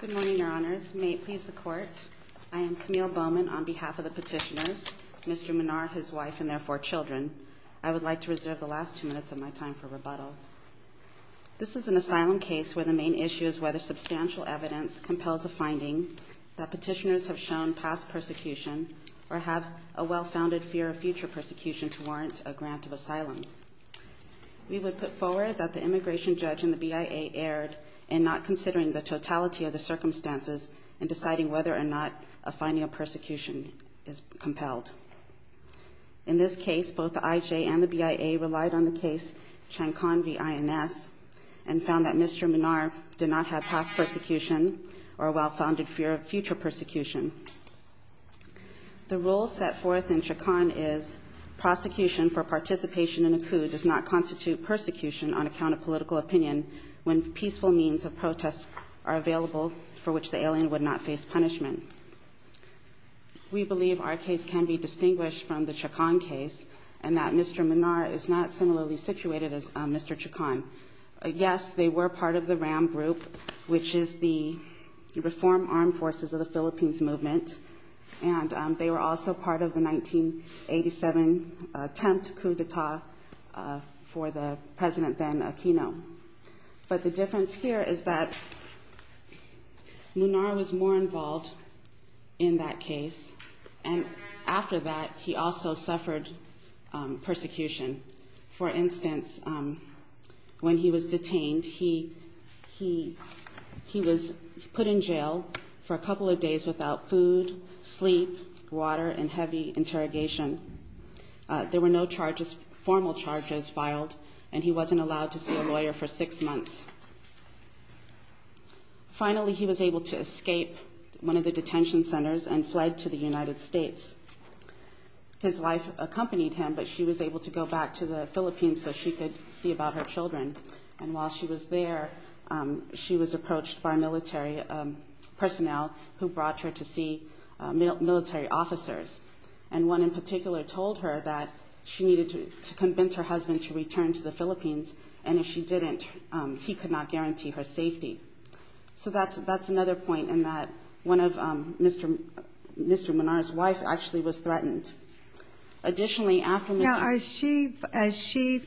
Good morning, Your Honors. May it please the Court, I am Camille Bowman on behalf of the petitioners, Mr. Minar, his wife, and their four children. I would like to reserve the last two minutes of my time for rebuttal. This is an asylum case where the main issue is whether substantial evidence compels a finding that petitioners have shown past persecution or have a well-founded fear of future persecution to warrant a grant of asylum. We would put the totality of the circumstances in deciding whether or not a finding of persecution is compelled. In this case, both the IJ and the BIA relied on the case Chancon v. INS and found that Mr. Minar did not have past persecution or a well-founded fear of future persecution. The rule set forth in Chancon is, prosecution for participation in a coup does not constitute persecution on account of political opinion when peaceful means of protest are available for which the alien would not face punishment. We believe our case can be distinguished from the Chancon case and that Mr. Minar is not similarly situated as Mr. Chancon. Yes, they were part of the RAM group, which is the Reform Armed Forces of the Philippines Movement, and they were also part of the 1987 attempt coup d'etat for the President then Aquino. But the difference here is that Minar was more involved in that case, and after that he also suffered persecution. For instance, when he was detained, he was put in jail for a couple of days without food, sleep, water, and heavy interrogation. There were no formal charges filed, and he wasn't allowed to see a lawyer for six months. Finally, he was able to escape one of the detention centers and fled to the United States. His wife accompanied him, but she was able to go back to the Philippines so she could see about her children. And while she was there, she was approached by military personnel who brought her to see military officers. And one in particular told her that she needed to convince her husband to return to the Philippines, and if she didn't, he could not guarantee her safety. So that's another point in that one of Mr. Minar's wife actually was threatened. Additionally, after Mr. Minar... Now, is she,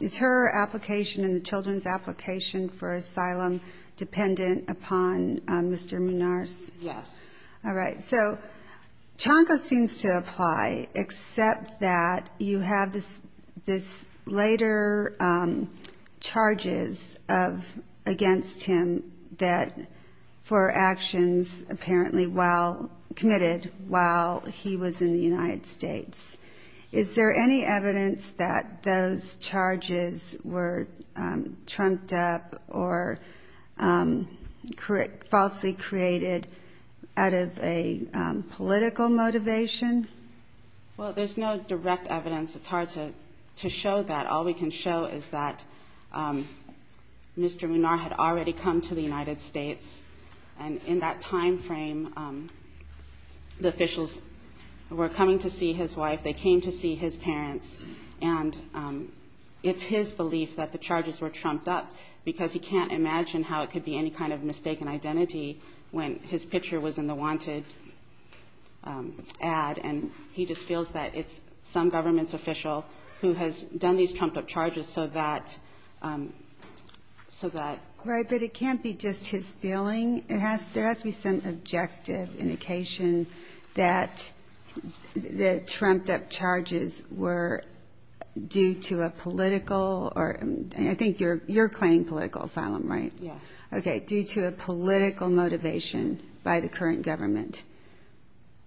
is her application and the children's application for asylum dependent upon Mr. Minar's? Yes. All right. So, Chanco seems to apply, except that you have this later charges of, against him that, for actions apparently while, committed while he was in the United States. Is there any evidence that those charges were trumped up or falsely created out of a political motivation? Well, there's no direct evidence. It's hard to show that. All we can show is that Mr. Minar did come to the United States. And in that time frame, the officials were coming to see his wife. They came to see his parents. And it's his belief that the charges were trumped up because he can't imagine how it could be any kind of mistaken identity when his picture was in the wanted ad. And he just feels that it's some government's official who has done these trumped up charges so that, so that... Right. But it can't be just his feeling. It has, there has to be some objective indication that the trumped up charges were due to a political or, I think you're, you're claiming political asylum, right? Yes. Okay. Due to a political motivation by the current government.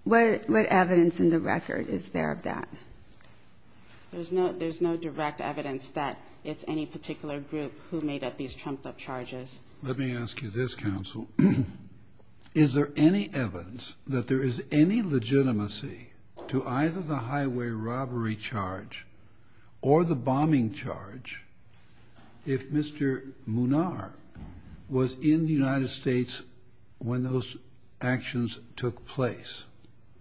What, what evidence in the record is there of that? There's no, there's no direct evidence that it's any particular group who made up these trumped up charges. Let me ask you this, counsel. Is there any evidence that there is any legitimacy to either the highway robbery charge or the bombing charge if Mr. Minar was in the United States when those actions took place?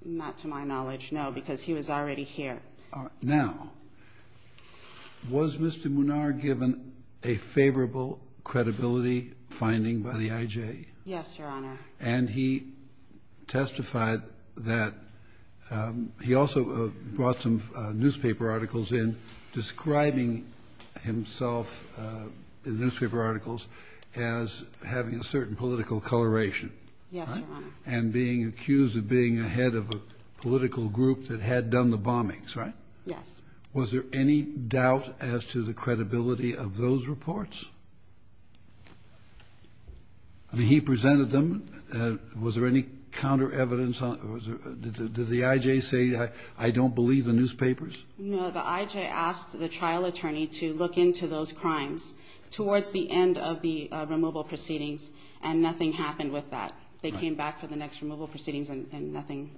Not to my knowledge, no, because he was already here. Now, was Mr. Minar given a favorable credibility finding by the IJ? Yes, Your Honor. And he testified that, he also brought some newspaper articles in describing himself in the newspaper articles as having a certain political coloration. Yes, Your Honor. And being accused of being a head of a political group that had done the bombings, right? Yes. Was there any doubt as to the credibility of those reports? I mean, he presented them. Was there any counter evidence on, was there, did the IJ say, I don't believe the newspapers? No, the IJ asked the trial attorney to look into those crimes towards the end of the removal proceedings, and nothing happened with that. They came back for the next removal proceedings and nothing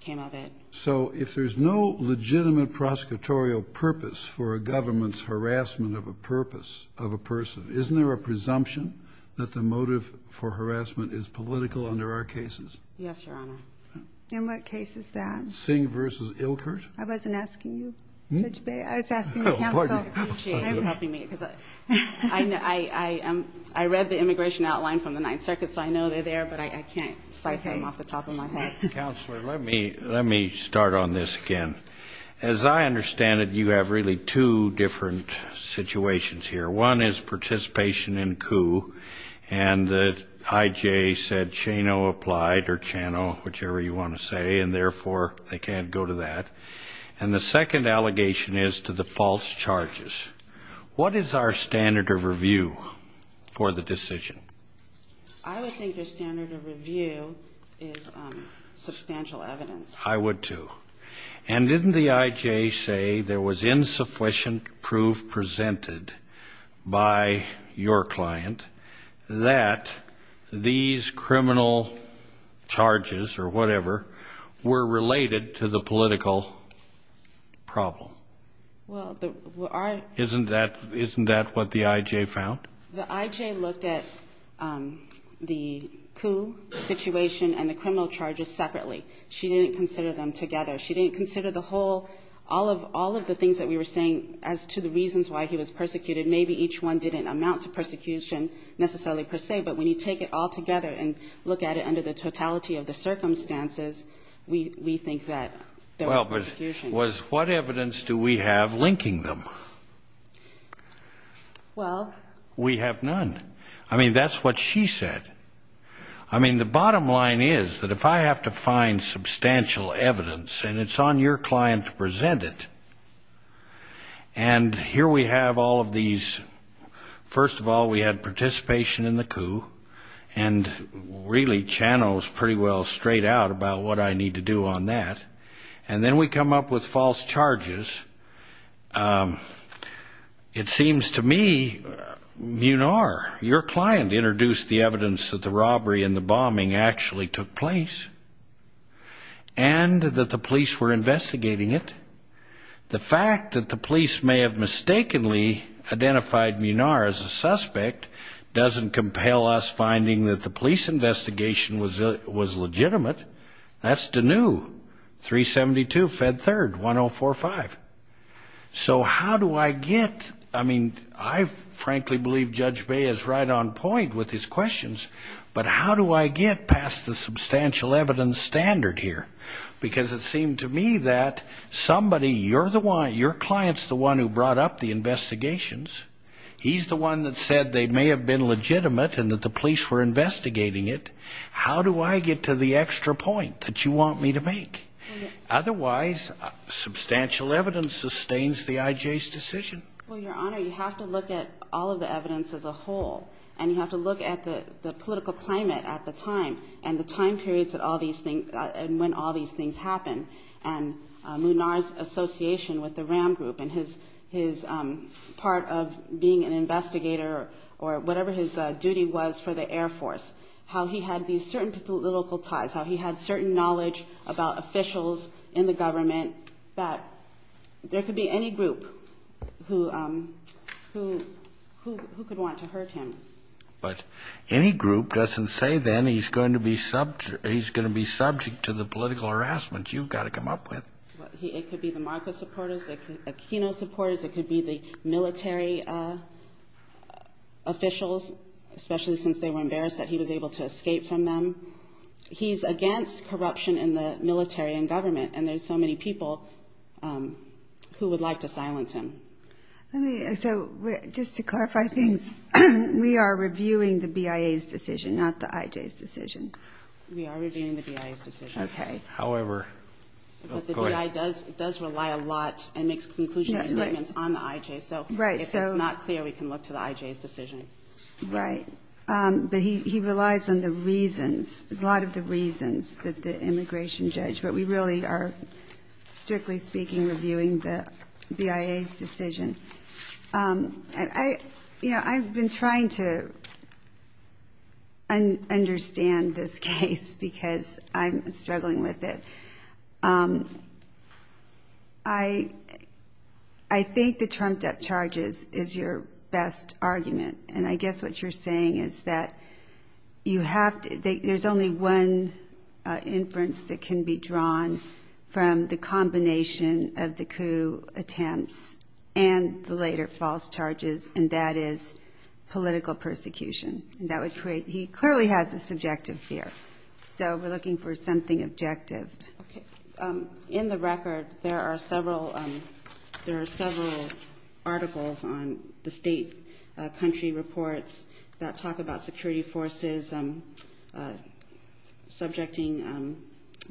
came of it. So if there's no legitimate prosecutorial purpose for a government's harassment of a purpose of a person, isn't there a presumption that the motive for harassment is political under our cases? Yes, Your Honor. In what case is that? Singh v. Ilkert. I wasn't asking you, Judge Bay. I was asking you, counsel. Pardon me. I appreciate you helping me, because I read the immigration outline from the Ninth Circuit, so I know they're there, but I can't cite them off the top of my head. Counselor, let me start on this again. As I understand it, you have really two different situations here. One is participation in coup, and the IJ said Shano applied, or Chano, whichever you want to say, and therefore they can't go to that. And the second allegation is to false charges. What is our standard of review for the decision? I would think your standard of review is substantial evidence. I would, too. And didn't the IJ say there was insufficient proof presented by your client that these criminal charges, or whatever, were related to the political problem? Well, the one I --- Isn't that what the IJ found? The IJ looked at the coup situation and the criminal charges separately. She didn't consider them together. She didn't consider the whole of all of the things that we were saying as to the reasons why he was persecuted. Maybe each one didn't amount to persecution necessarily per se, but when you take it all together and look at it under the totality of the circumstances, we think that there was persecution. What evidence do we have linking them? Well, we have none. I mean, that's what she said. I mean, the bottom line is that if I have to find substantial evidence, and it's on your client to present it, and here we have all of these. First of all, we had participation in the coup, and really, Chano's pretty well straight out about what I need to do on that. And then we come up with false charges. It seems to me Munar, your client, introduced the evidence that the robbery and the bombing actually took place and that the police were investigating it. The fact that the police may have mistakenly identified Munar as a suspect doesn't compel us finding that the police investigation was legitimate. That's Deneu, 372 Fed 3rd, 1045. So how do I get, I mean, I frankly believe Judge Bae is right on point with his questions, but how do I get past the substantial evidence standard here? Because it seemed to me that somebody, you're the one, your client's the one who brought up the investigations. He's the one that said they may have been legitimate and that the police were investigating it. How do I get to the extra point that you want me to make? Otherwise, substantial evidence sustains the I.J.'s decision. Well, Your Honor, you have to look at all of the evidence as a whole, and you have to look at the political climate at the time, and the time periods that all these things, and when all these things happen, and Munar's association with the RAM group and his part of being an investigator or whatever his duty was for the Air Force, how he had these certain political ties, how he had certain knowledge of the political world, about officials in the government, that there could be any group who, who, who could want to hurt him. But any group doesn't say, then, he's going to be subject, he's going to be subject to the political harassment you've got to come up with. It could be the Marcos supporters, it could be the Aquino supporters, it could be the military officials, especially since they were embarrassed that he was able to escape from them. He's against corruption in the military and government, and there's so many people who would like to silence him. Let me, so, just to clarify things, we are reviewing the BIA's decision, not the IJ's decision. We are reviewing the BIA's decision. Okay. However. But the BIA does, does rely a lot and makes conclusion statements on the IJ, so if it's not clear, we can look to the IJ's decision. Right. But he, he relies on the reasons, a lot of the reasons that the immigration judge, but we really are, strictly speaking, reviewing the BIA's decision. I, you know, I've been trying to understand this case because I'm struggling with it. Um, I, I think the trumped up charges is your best argument, and I guess what you're saying is that you have to, there's only one inference that can be drawn from the combination of the coup attempts and the later false charges, and that is political persecution. That would create, he clearly has a subjective fear, so we're looking for something objective. Okay. Um, in the record, there are several, um, there are several articles on the state, uh, country reports that talk about security forces, um, uh, subjecting, um,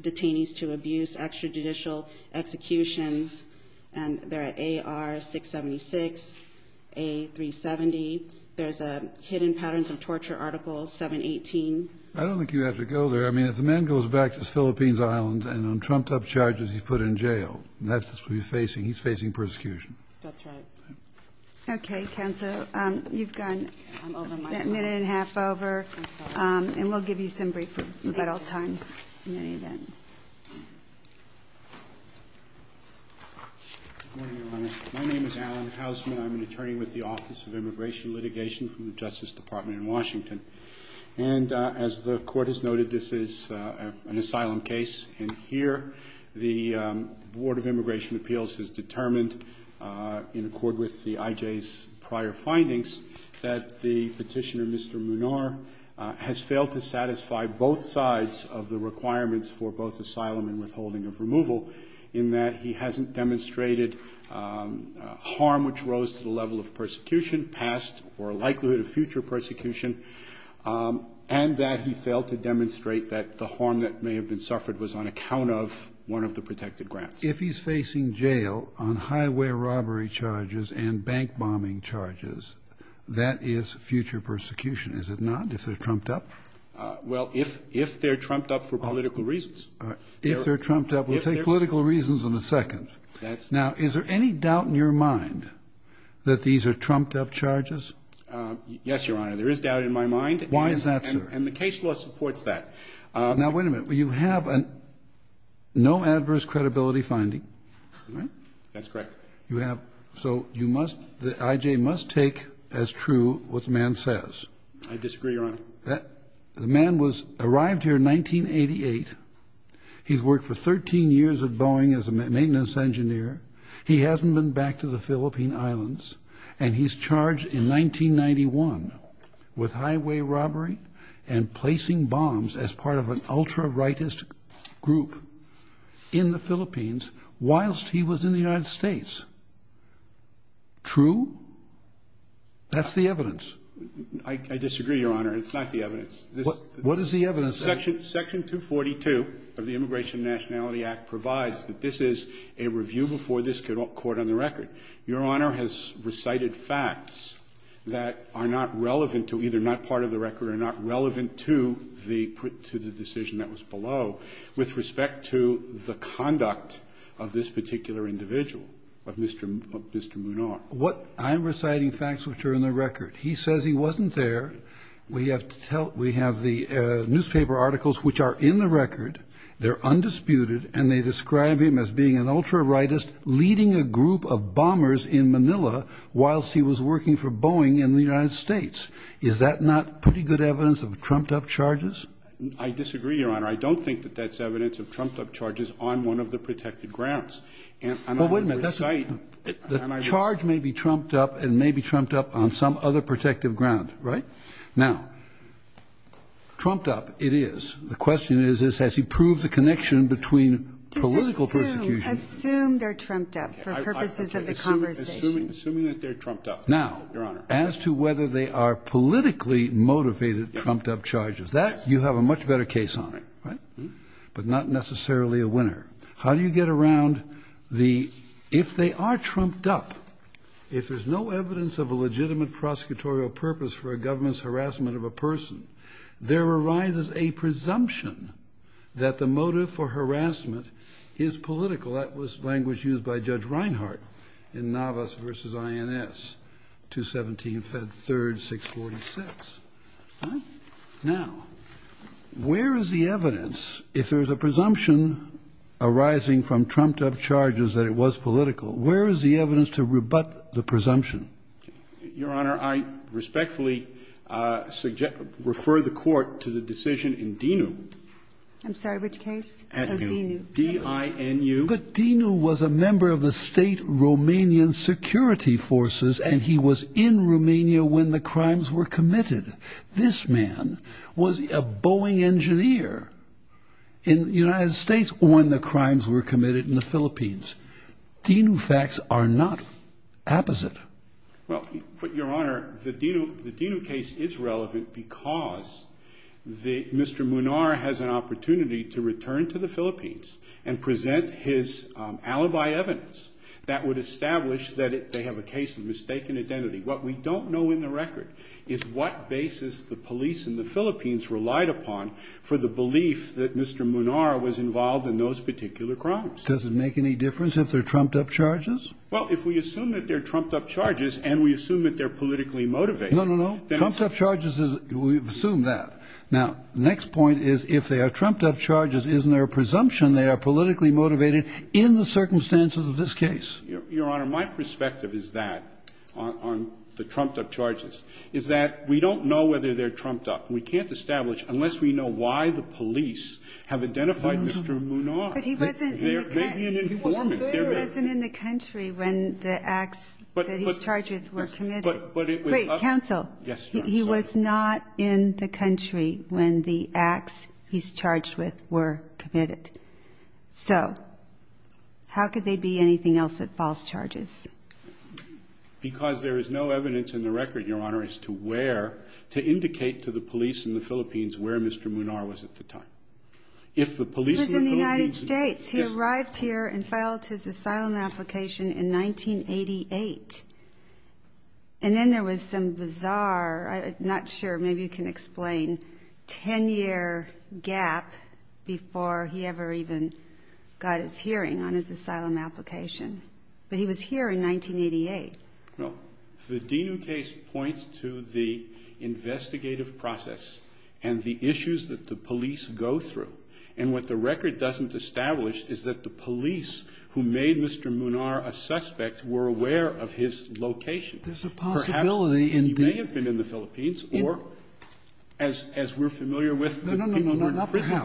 detainees to abuse, extrajudicial executions, and they're at AR-676, A-370. There's a hidden patterns of torture article 718. I don't think you have to go there. I mean, if the man goes back to his Philippines islands and on trumped up charges, he's put in jail, that's just what he's facing. He's facing persecution. That's right. Okay. Counsel, um, you've gone a minute and a half over, um, and we'll give you some briefing. You've got all the time in any event. My name is Alan Hausman. I'm an attorney with the Office of Immigration Litigation from the Justice Department in Washington. And, uh, as the court has noted, this is, uh, an asylum case. And here, the, um, Board of Immigration Appeals has determined, uh, in accord with the IJ's prior findings that the petitioner, Mr. Munar, uh, has failed to satisfy both sides of the requirements for both asylum and withholding of removal in that he hasn't demonstrated, um, uh, harm which rose to the level of persecution, past or um, and that he failed to demonstrate that the harm that may have been suffered was on account of one of the protected grants. If he's facing jail on highway robbery charges and bank bombing charges, that is future persecution, is it not? If they're trumped up? Well, if, if they're trumped up for political reasons. If they're trumped up, we'll take political reasons in a second. That's. Now, is there any doubt in your mind that these are trumped up charges? Yes, Your Honor. There is doubt in my mind. Why is that, sir? And the case law supports that. Now, wait a minute. You have an no adverse credibility finding, right? That's correct. You have. So you must, the IJ must take as true what the man says. I disagree, Your Honor. That the man was arrived here in 1988. He's worked for 13 years at Boeing as a maintenance engineer. He hasn't been back to the Philippine islands. And he's charged in 1991 with highway robbery and placing bombs as part of an ultra rightist group in the Philippines whilst he was in the United States. True? That's the evidence. I disagree, Your Honor. It's not the evidence. What is the evidence? Section 242 of the Immigration Nationality Act provides that this is a review before this court on the record. Your Honor has recited facts that are not relevant to either not part of the record or not relevant to the decision that was below with respect to the conduct of this particular individual, of Mr. Munar. I'm reciting facts which are in the record. He says he wasn't there. We have to tell, we have the newspaper articles which are in the record. They're undisputed. And they describe him as being an ultra rightist leading a group of bombers in Manila whilst he was working for Boeing in the United States. Is that not pretty good evidence of trumped-up charges? I disagree, Your Honor. I don't think that that's evidence of trumped-up charges on one of the protected grounds. And I'm not going to recite. The charge may be trumped-up and may be trumped-up on some other protective ground, right? Now, trumped-up it is. The question is, has he proved the connection between political persecution? Assume they're trumped-up for purposes of the conversation. Assuming that they're trumped-up. Now, as to whether they are politically motivated trumped-up charges, that you have a much better case on it, right? But not necessarily a winner. How do you get around the, if they are trumped-up, if there's no evidence of a legitimate prosecutorial purpose for a government's harassment of a person, there arises a presumption that the motive for harassment is political. That was language used by Judge Reinhart in Navas v. INS, 217, Fed 3rd, 646. Now, where is the evidence, if there's a presumption arising from trumped-up charges that it was political, where is the evidence to rebut the presumption? Your Honor, I respectfully refer the Court to the decision in DINU. I'm sorry, which case? DINU. D-I-N-U. But DINU was a member of the state Romanian security forces, and he was in Romania when the crimes were committed. This man was a Boeing engineer in the United States when the crimes were committed in the Philippines. DINU facts are not opposite. Well, Your Honor, the DINU case is relevant because Mr. Munar has an opportunity to return to the Philippines and present his alibi evidence that would establish that they have a case of mistaken identity. What we don't know in the record is what basis the police in the Philippines relied upon for the belief that Mr. Munar was involved in those particular crimes. Does it make any difference if they're trumped-up charges? Well, if we assume that they're trumped-up charges and we assume that they're politically motivated. No, no, no. Trumped-up charges, we assume that. Now, the next point is if they are trumped-up charges, isn't there a presumption they are politically motivated in the circumstances of this case? Your Honor, my perspective is that, on the trumped-up charges, is that we don't know whether they're trumped-up. We can't establish unless we know why the police have identified Mr. Munar. But he wasn't in the country when the acts that he's charged with were committed. Wait, counsel. He was not in the country when the acts he's charged with were committed. So how could they be anything else but false charges? Because there is no evidence in the record, Your Honor, as to where to indicate to the police in the Philippines where Mr. Munar was at the time. If the police in the Philippines- He was in the United States. He arrived here and filed his asylum application in 1988. And then there was some bizarre, I'm not sure, maybe you can explain, 10-year gap before he ever even got his hearing on his asylum application. But he was here in 1988. No. The Dinu case points to the investigative process and the issues that the police go through. And what the record doesn't establish is that the police who made Mr. Munar a suspect were aware of his location. There's a possibility in- Perhaps he may have been in the Philippines or, as we're familiar with- No, no, no, not perhaps. The people who are in prison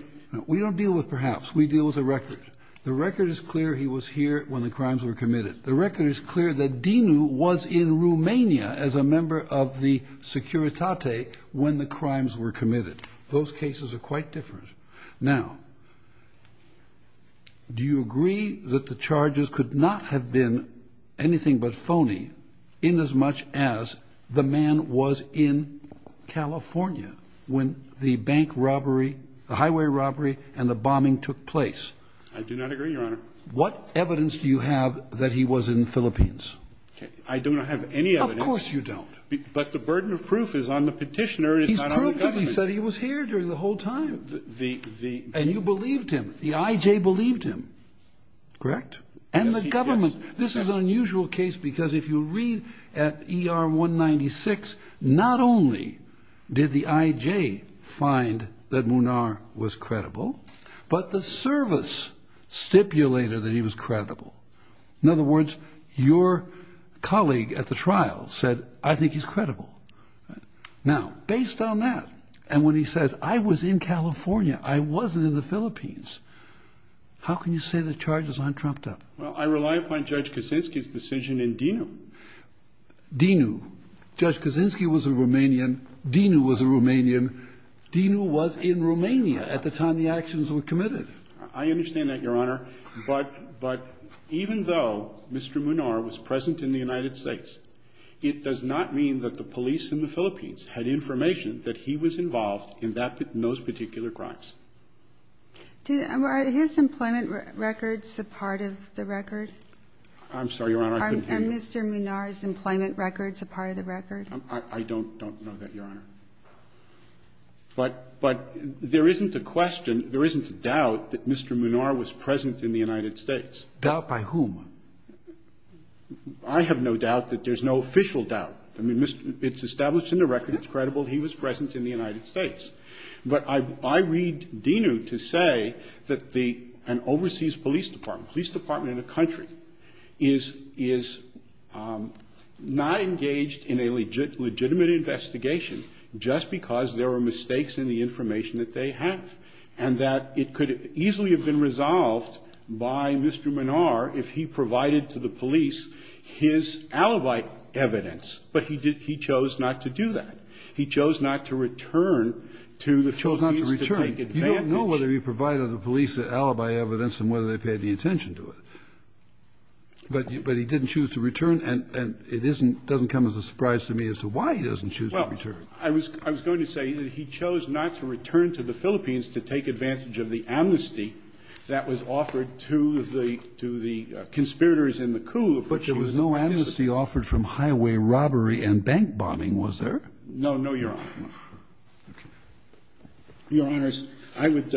directing- We don't deal with perhaps. We deal with the record. The record is clear he was here when the crimes were committed. The record is clear that Dinu was in Romania as a member of the Securitate when the crimes were committed. Those cases are quite different. Now, do you agree that the charges could not have been anything but phony inasmuch as the man was in California when the bank robbery, the highway robbery, and the bombing took place? I do not agree, Your Honor. What evidence do you have that he was in the Philippines? I do not have any evidence. Of course you don't. He said he was here during the whole time. And you believed him. The I.J. believed him, correct? And the government. This is an unusual case because if you read at ER 196, not only did the I.J. find that Munar was credible, but the service stipulated that he was credible. In other words, your colleague at the trial said, I think he's credible. Now, based on that, and when he says, I was in California, I wasn't in the Philippines, how can you say the charges aren't trumped up? Well, I rely upon Judge Kaczynski's decision in Dinu. Dinu. Judge Kaczynski was a Romanian. Dinu was a Romanian. Dinu was in Romania at the time the actions were committed. I understand that, Your Honor. But even though Mr. Munar was present in the United States, it does not mean that the police in the Philippines had information that he was involved in those particular crimes. Are his employment records a part of the record? I'm sorry, Your Honor, I couldn't hear you. Are Mr. Munar's employment records a part of the record? I don't know that, Your Honor. But there isn't a question, there isn't a doubt that Mr. Munar was present in the United States. Doubt by whom? I have no doubt that there's no official doubt. I mean, it's established in the record. It's credible he was present in the United States. But I read Dinu to say that the an overseas police department, police department in a country, is not engaged in a legitimate investigation just because there are mistakes in the information that they have, and that it could easily have been resolved by Mr. Munar if he provided to the police his alibi evidence. But he chose not to do that. He chose not to return to the Philippines to take advantage. He chose not to return. You don't know whether he provided the police the alibi evidence and whether they paid the attention to it. But he didn't choose to return, and it doesn't come as a surprise to me as to why he doesn't choose to return. Well, I was going to say that he chose not to return to the Philippines to take advantage of the amnesty that was offered to the conspirators in the coup. But there was no amnesty offered from highway robbery and bank bombing, was there? No, no, Your Honor. Your Honors, I would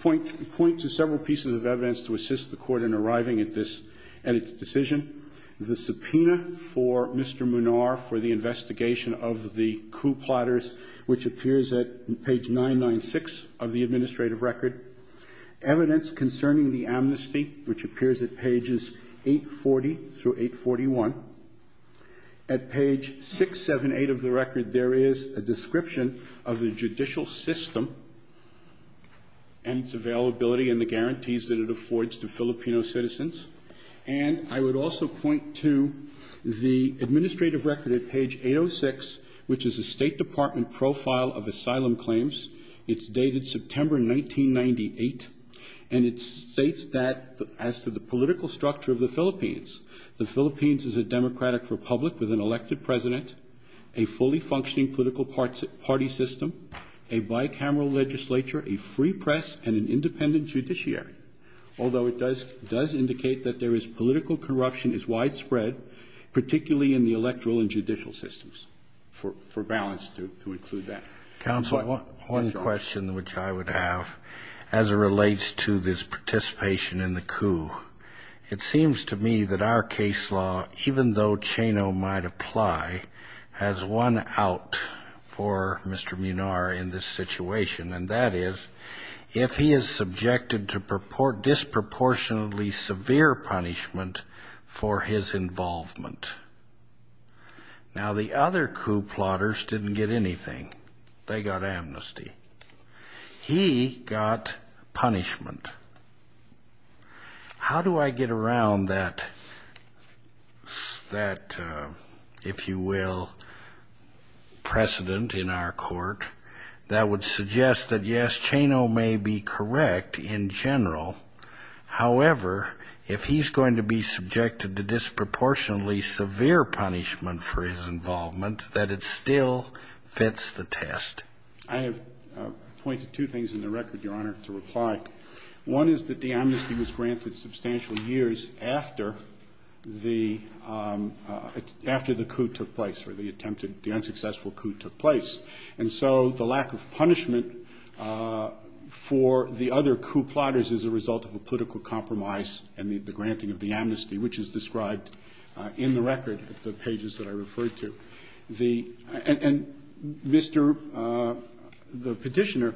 point to several pieces of evidence to assist the Court in arriving at its decision. The subpoena for Mr. Munar for the investigation of the coup plotters, which appears at page 996 of the administrative record. Evidence concerning the amnesty, which appears at pages 840 through 841. At page 678 of the record, there is a description of the judicial system and its availability and the guarantees that it affords to Filipino citizens. And I would also point to the administrative record at page 806, which is a State Department profile of asylum claims. It's dated September 1998, and it states that as to the political structure of the Philippines, the Philippines is a democratic republic with an elected president, a fully functioning political party system, a bicameral legislature, a free press, and an independent judiciary. Although it does indicate that there is political corruption is widespread, particularly in the electoral and judicial systems. For balance, to include that. Counsel, one question which I would have as it relates to this participation in the coup. It seems to me that our case law, even though Chano might apply, has one out for Mr. Munar in this situation, and that is if he is subjected to disproportionately severe punishment for his involvement. Now, the other coup plotters didn't get anything. They got amnesty. He got punishment. How do I get around that, if you will, precedent in our court that would suggest that, yes, Chano may be correct in general. However, if he's going to be subjected to disproportionately severe punishment for his involvement, that it still fits the test. I have pointed two things in the record, Your Honor, to reply. One is that the amnesty was granted substantial years after the coup took place, or the attempted, the unsuccessful coup took place. And so the lack of punishment for the other coup plotters is a result of a political compromise and the granting of the amnesty, which is described in the record at the pages that I referred to. And Mr. the Petitioner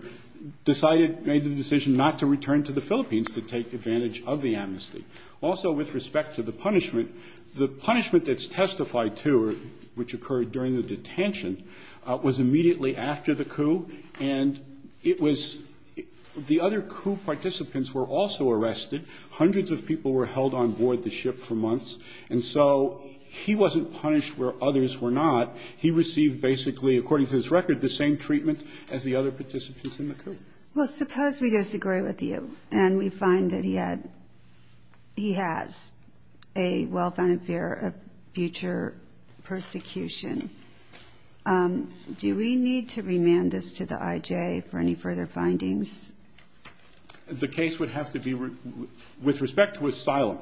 decided, made the decision not to return to the Philippines to take advantage of the amnesty. Also, with respect to the punishment, the punishment that's testified to, which occurred during the detention, was immediately after the coup. And it was, the other coup participants were also arrested. Hundreds of people were held on board the ship for months. And so he wasn't punished where others were not. He received basically, according to this record, the same treatment as the other participants in the coup. Well, suppose we disagree with you and we find that he had, he has a well-founded fear of future persecution, do we need to remand this to the I.J. for any further findings? The case would have to be, with respect to asylum,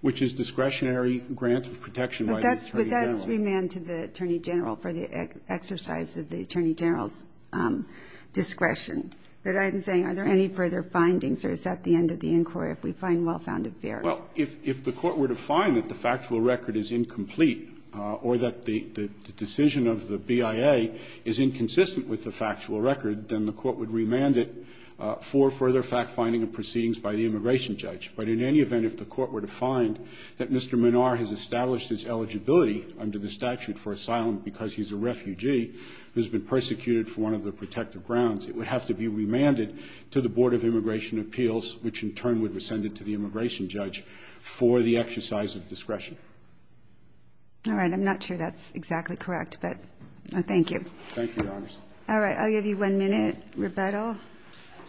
which is discretionary grant of protection by the Attorney General. But that's remand to the Attorney General for the exercise of the Attorney General's discretion. But I'm saying, are there any further findings, or is that the end of the inquiry if we find well-founded fear? Well, if the Court were to find that the factual record is incomplete or that the decision of the BIA is inconsistent with the factual record, then the Court would remand it for further fact-finding and proceedings by the immigration judge. But in any event, if the Court were to find that Mr. Menard has established his eligibility under the statute for asylum because he's a refugee who's been persecuted for one of the protective grounds, it would have to be remanded to the Board of Immigration Judge for the exercise of discretion. All right. I'm not sure that's exactly correct, but thank you. Thank you, Your Honors. All right. I'll give you one minute. Rebuttal?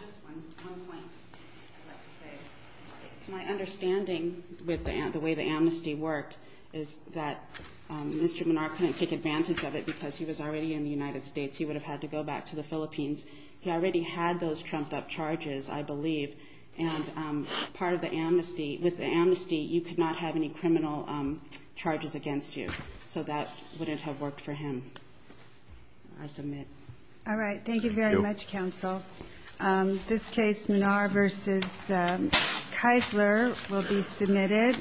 Just one point I'd like to say. My understanding with the way the amnesty worked is that Mr. Menard couldn't take advantage of it because he was already in the United States. He would have had to go back to the Philippines. He already had those trumped-up charges, I believe. And with the amnesty, you could not have any criminal charges against you. So that wouldn't have worked for him. I submit. All right. Thank you very much, counsel. This case, Menard v. Keisler, will be submitted.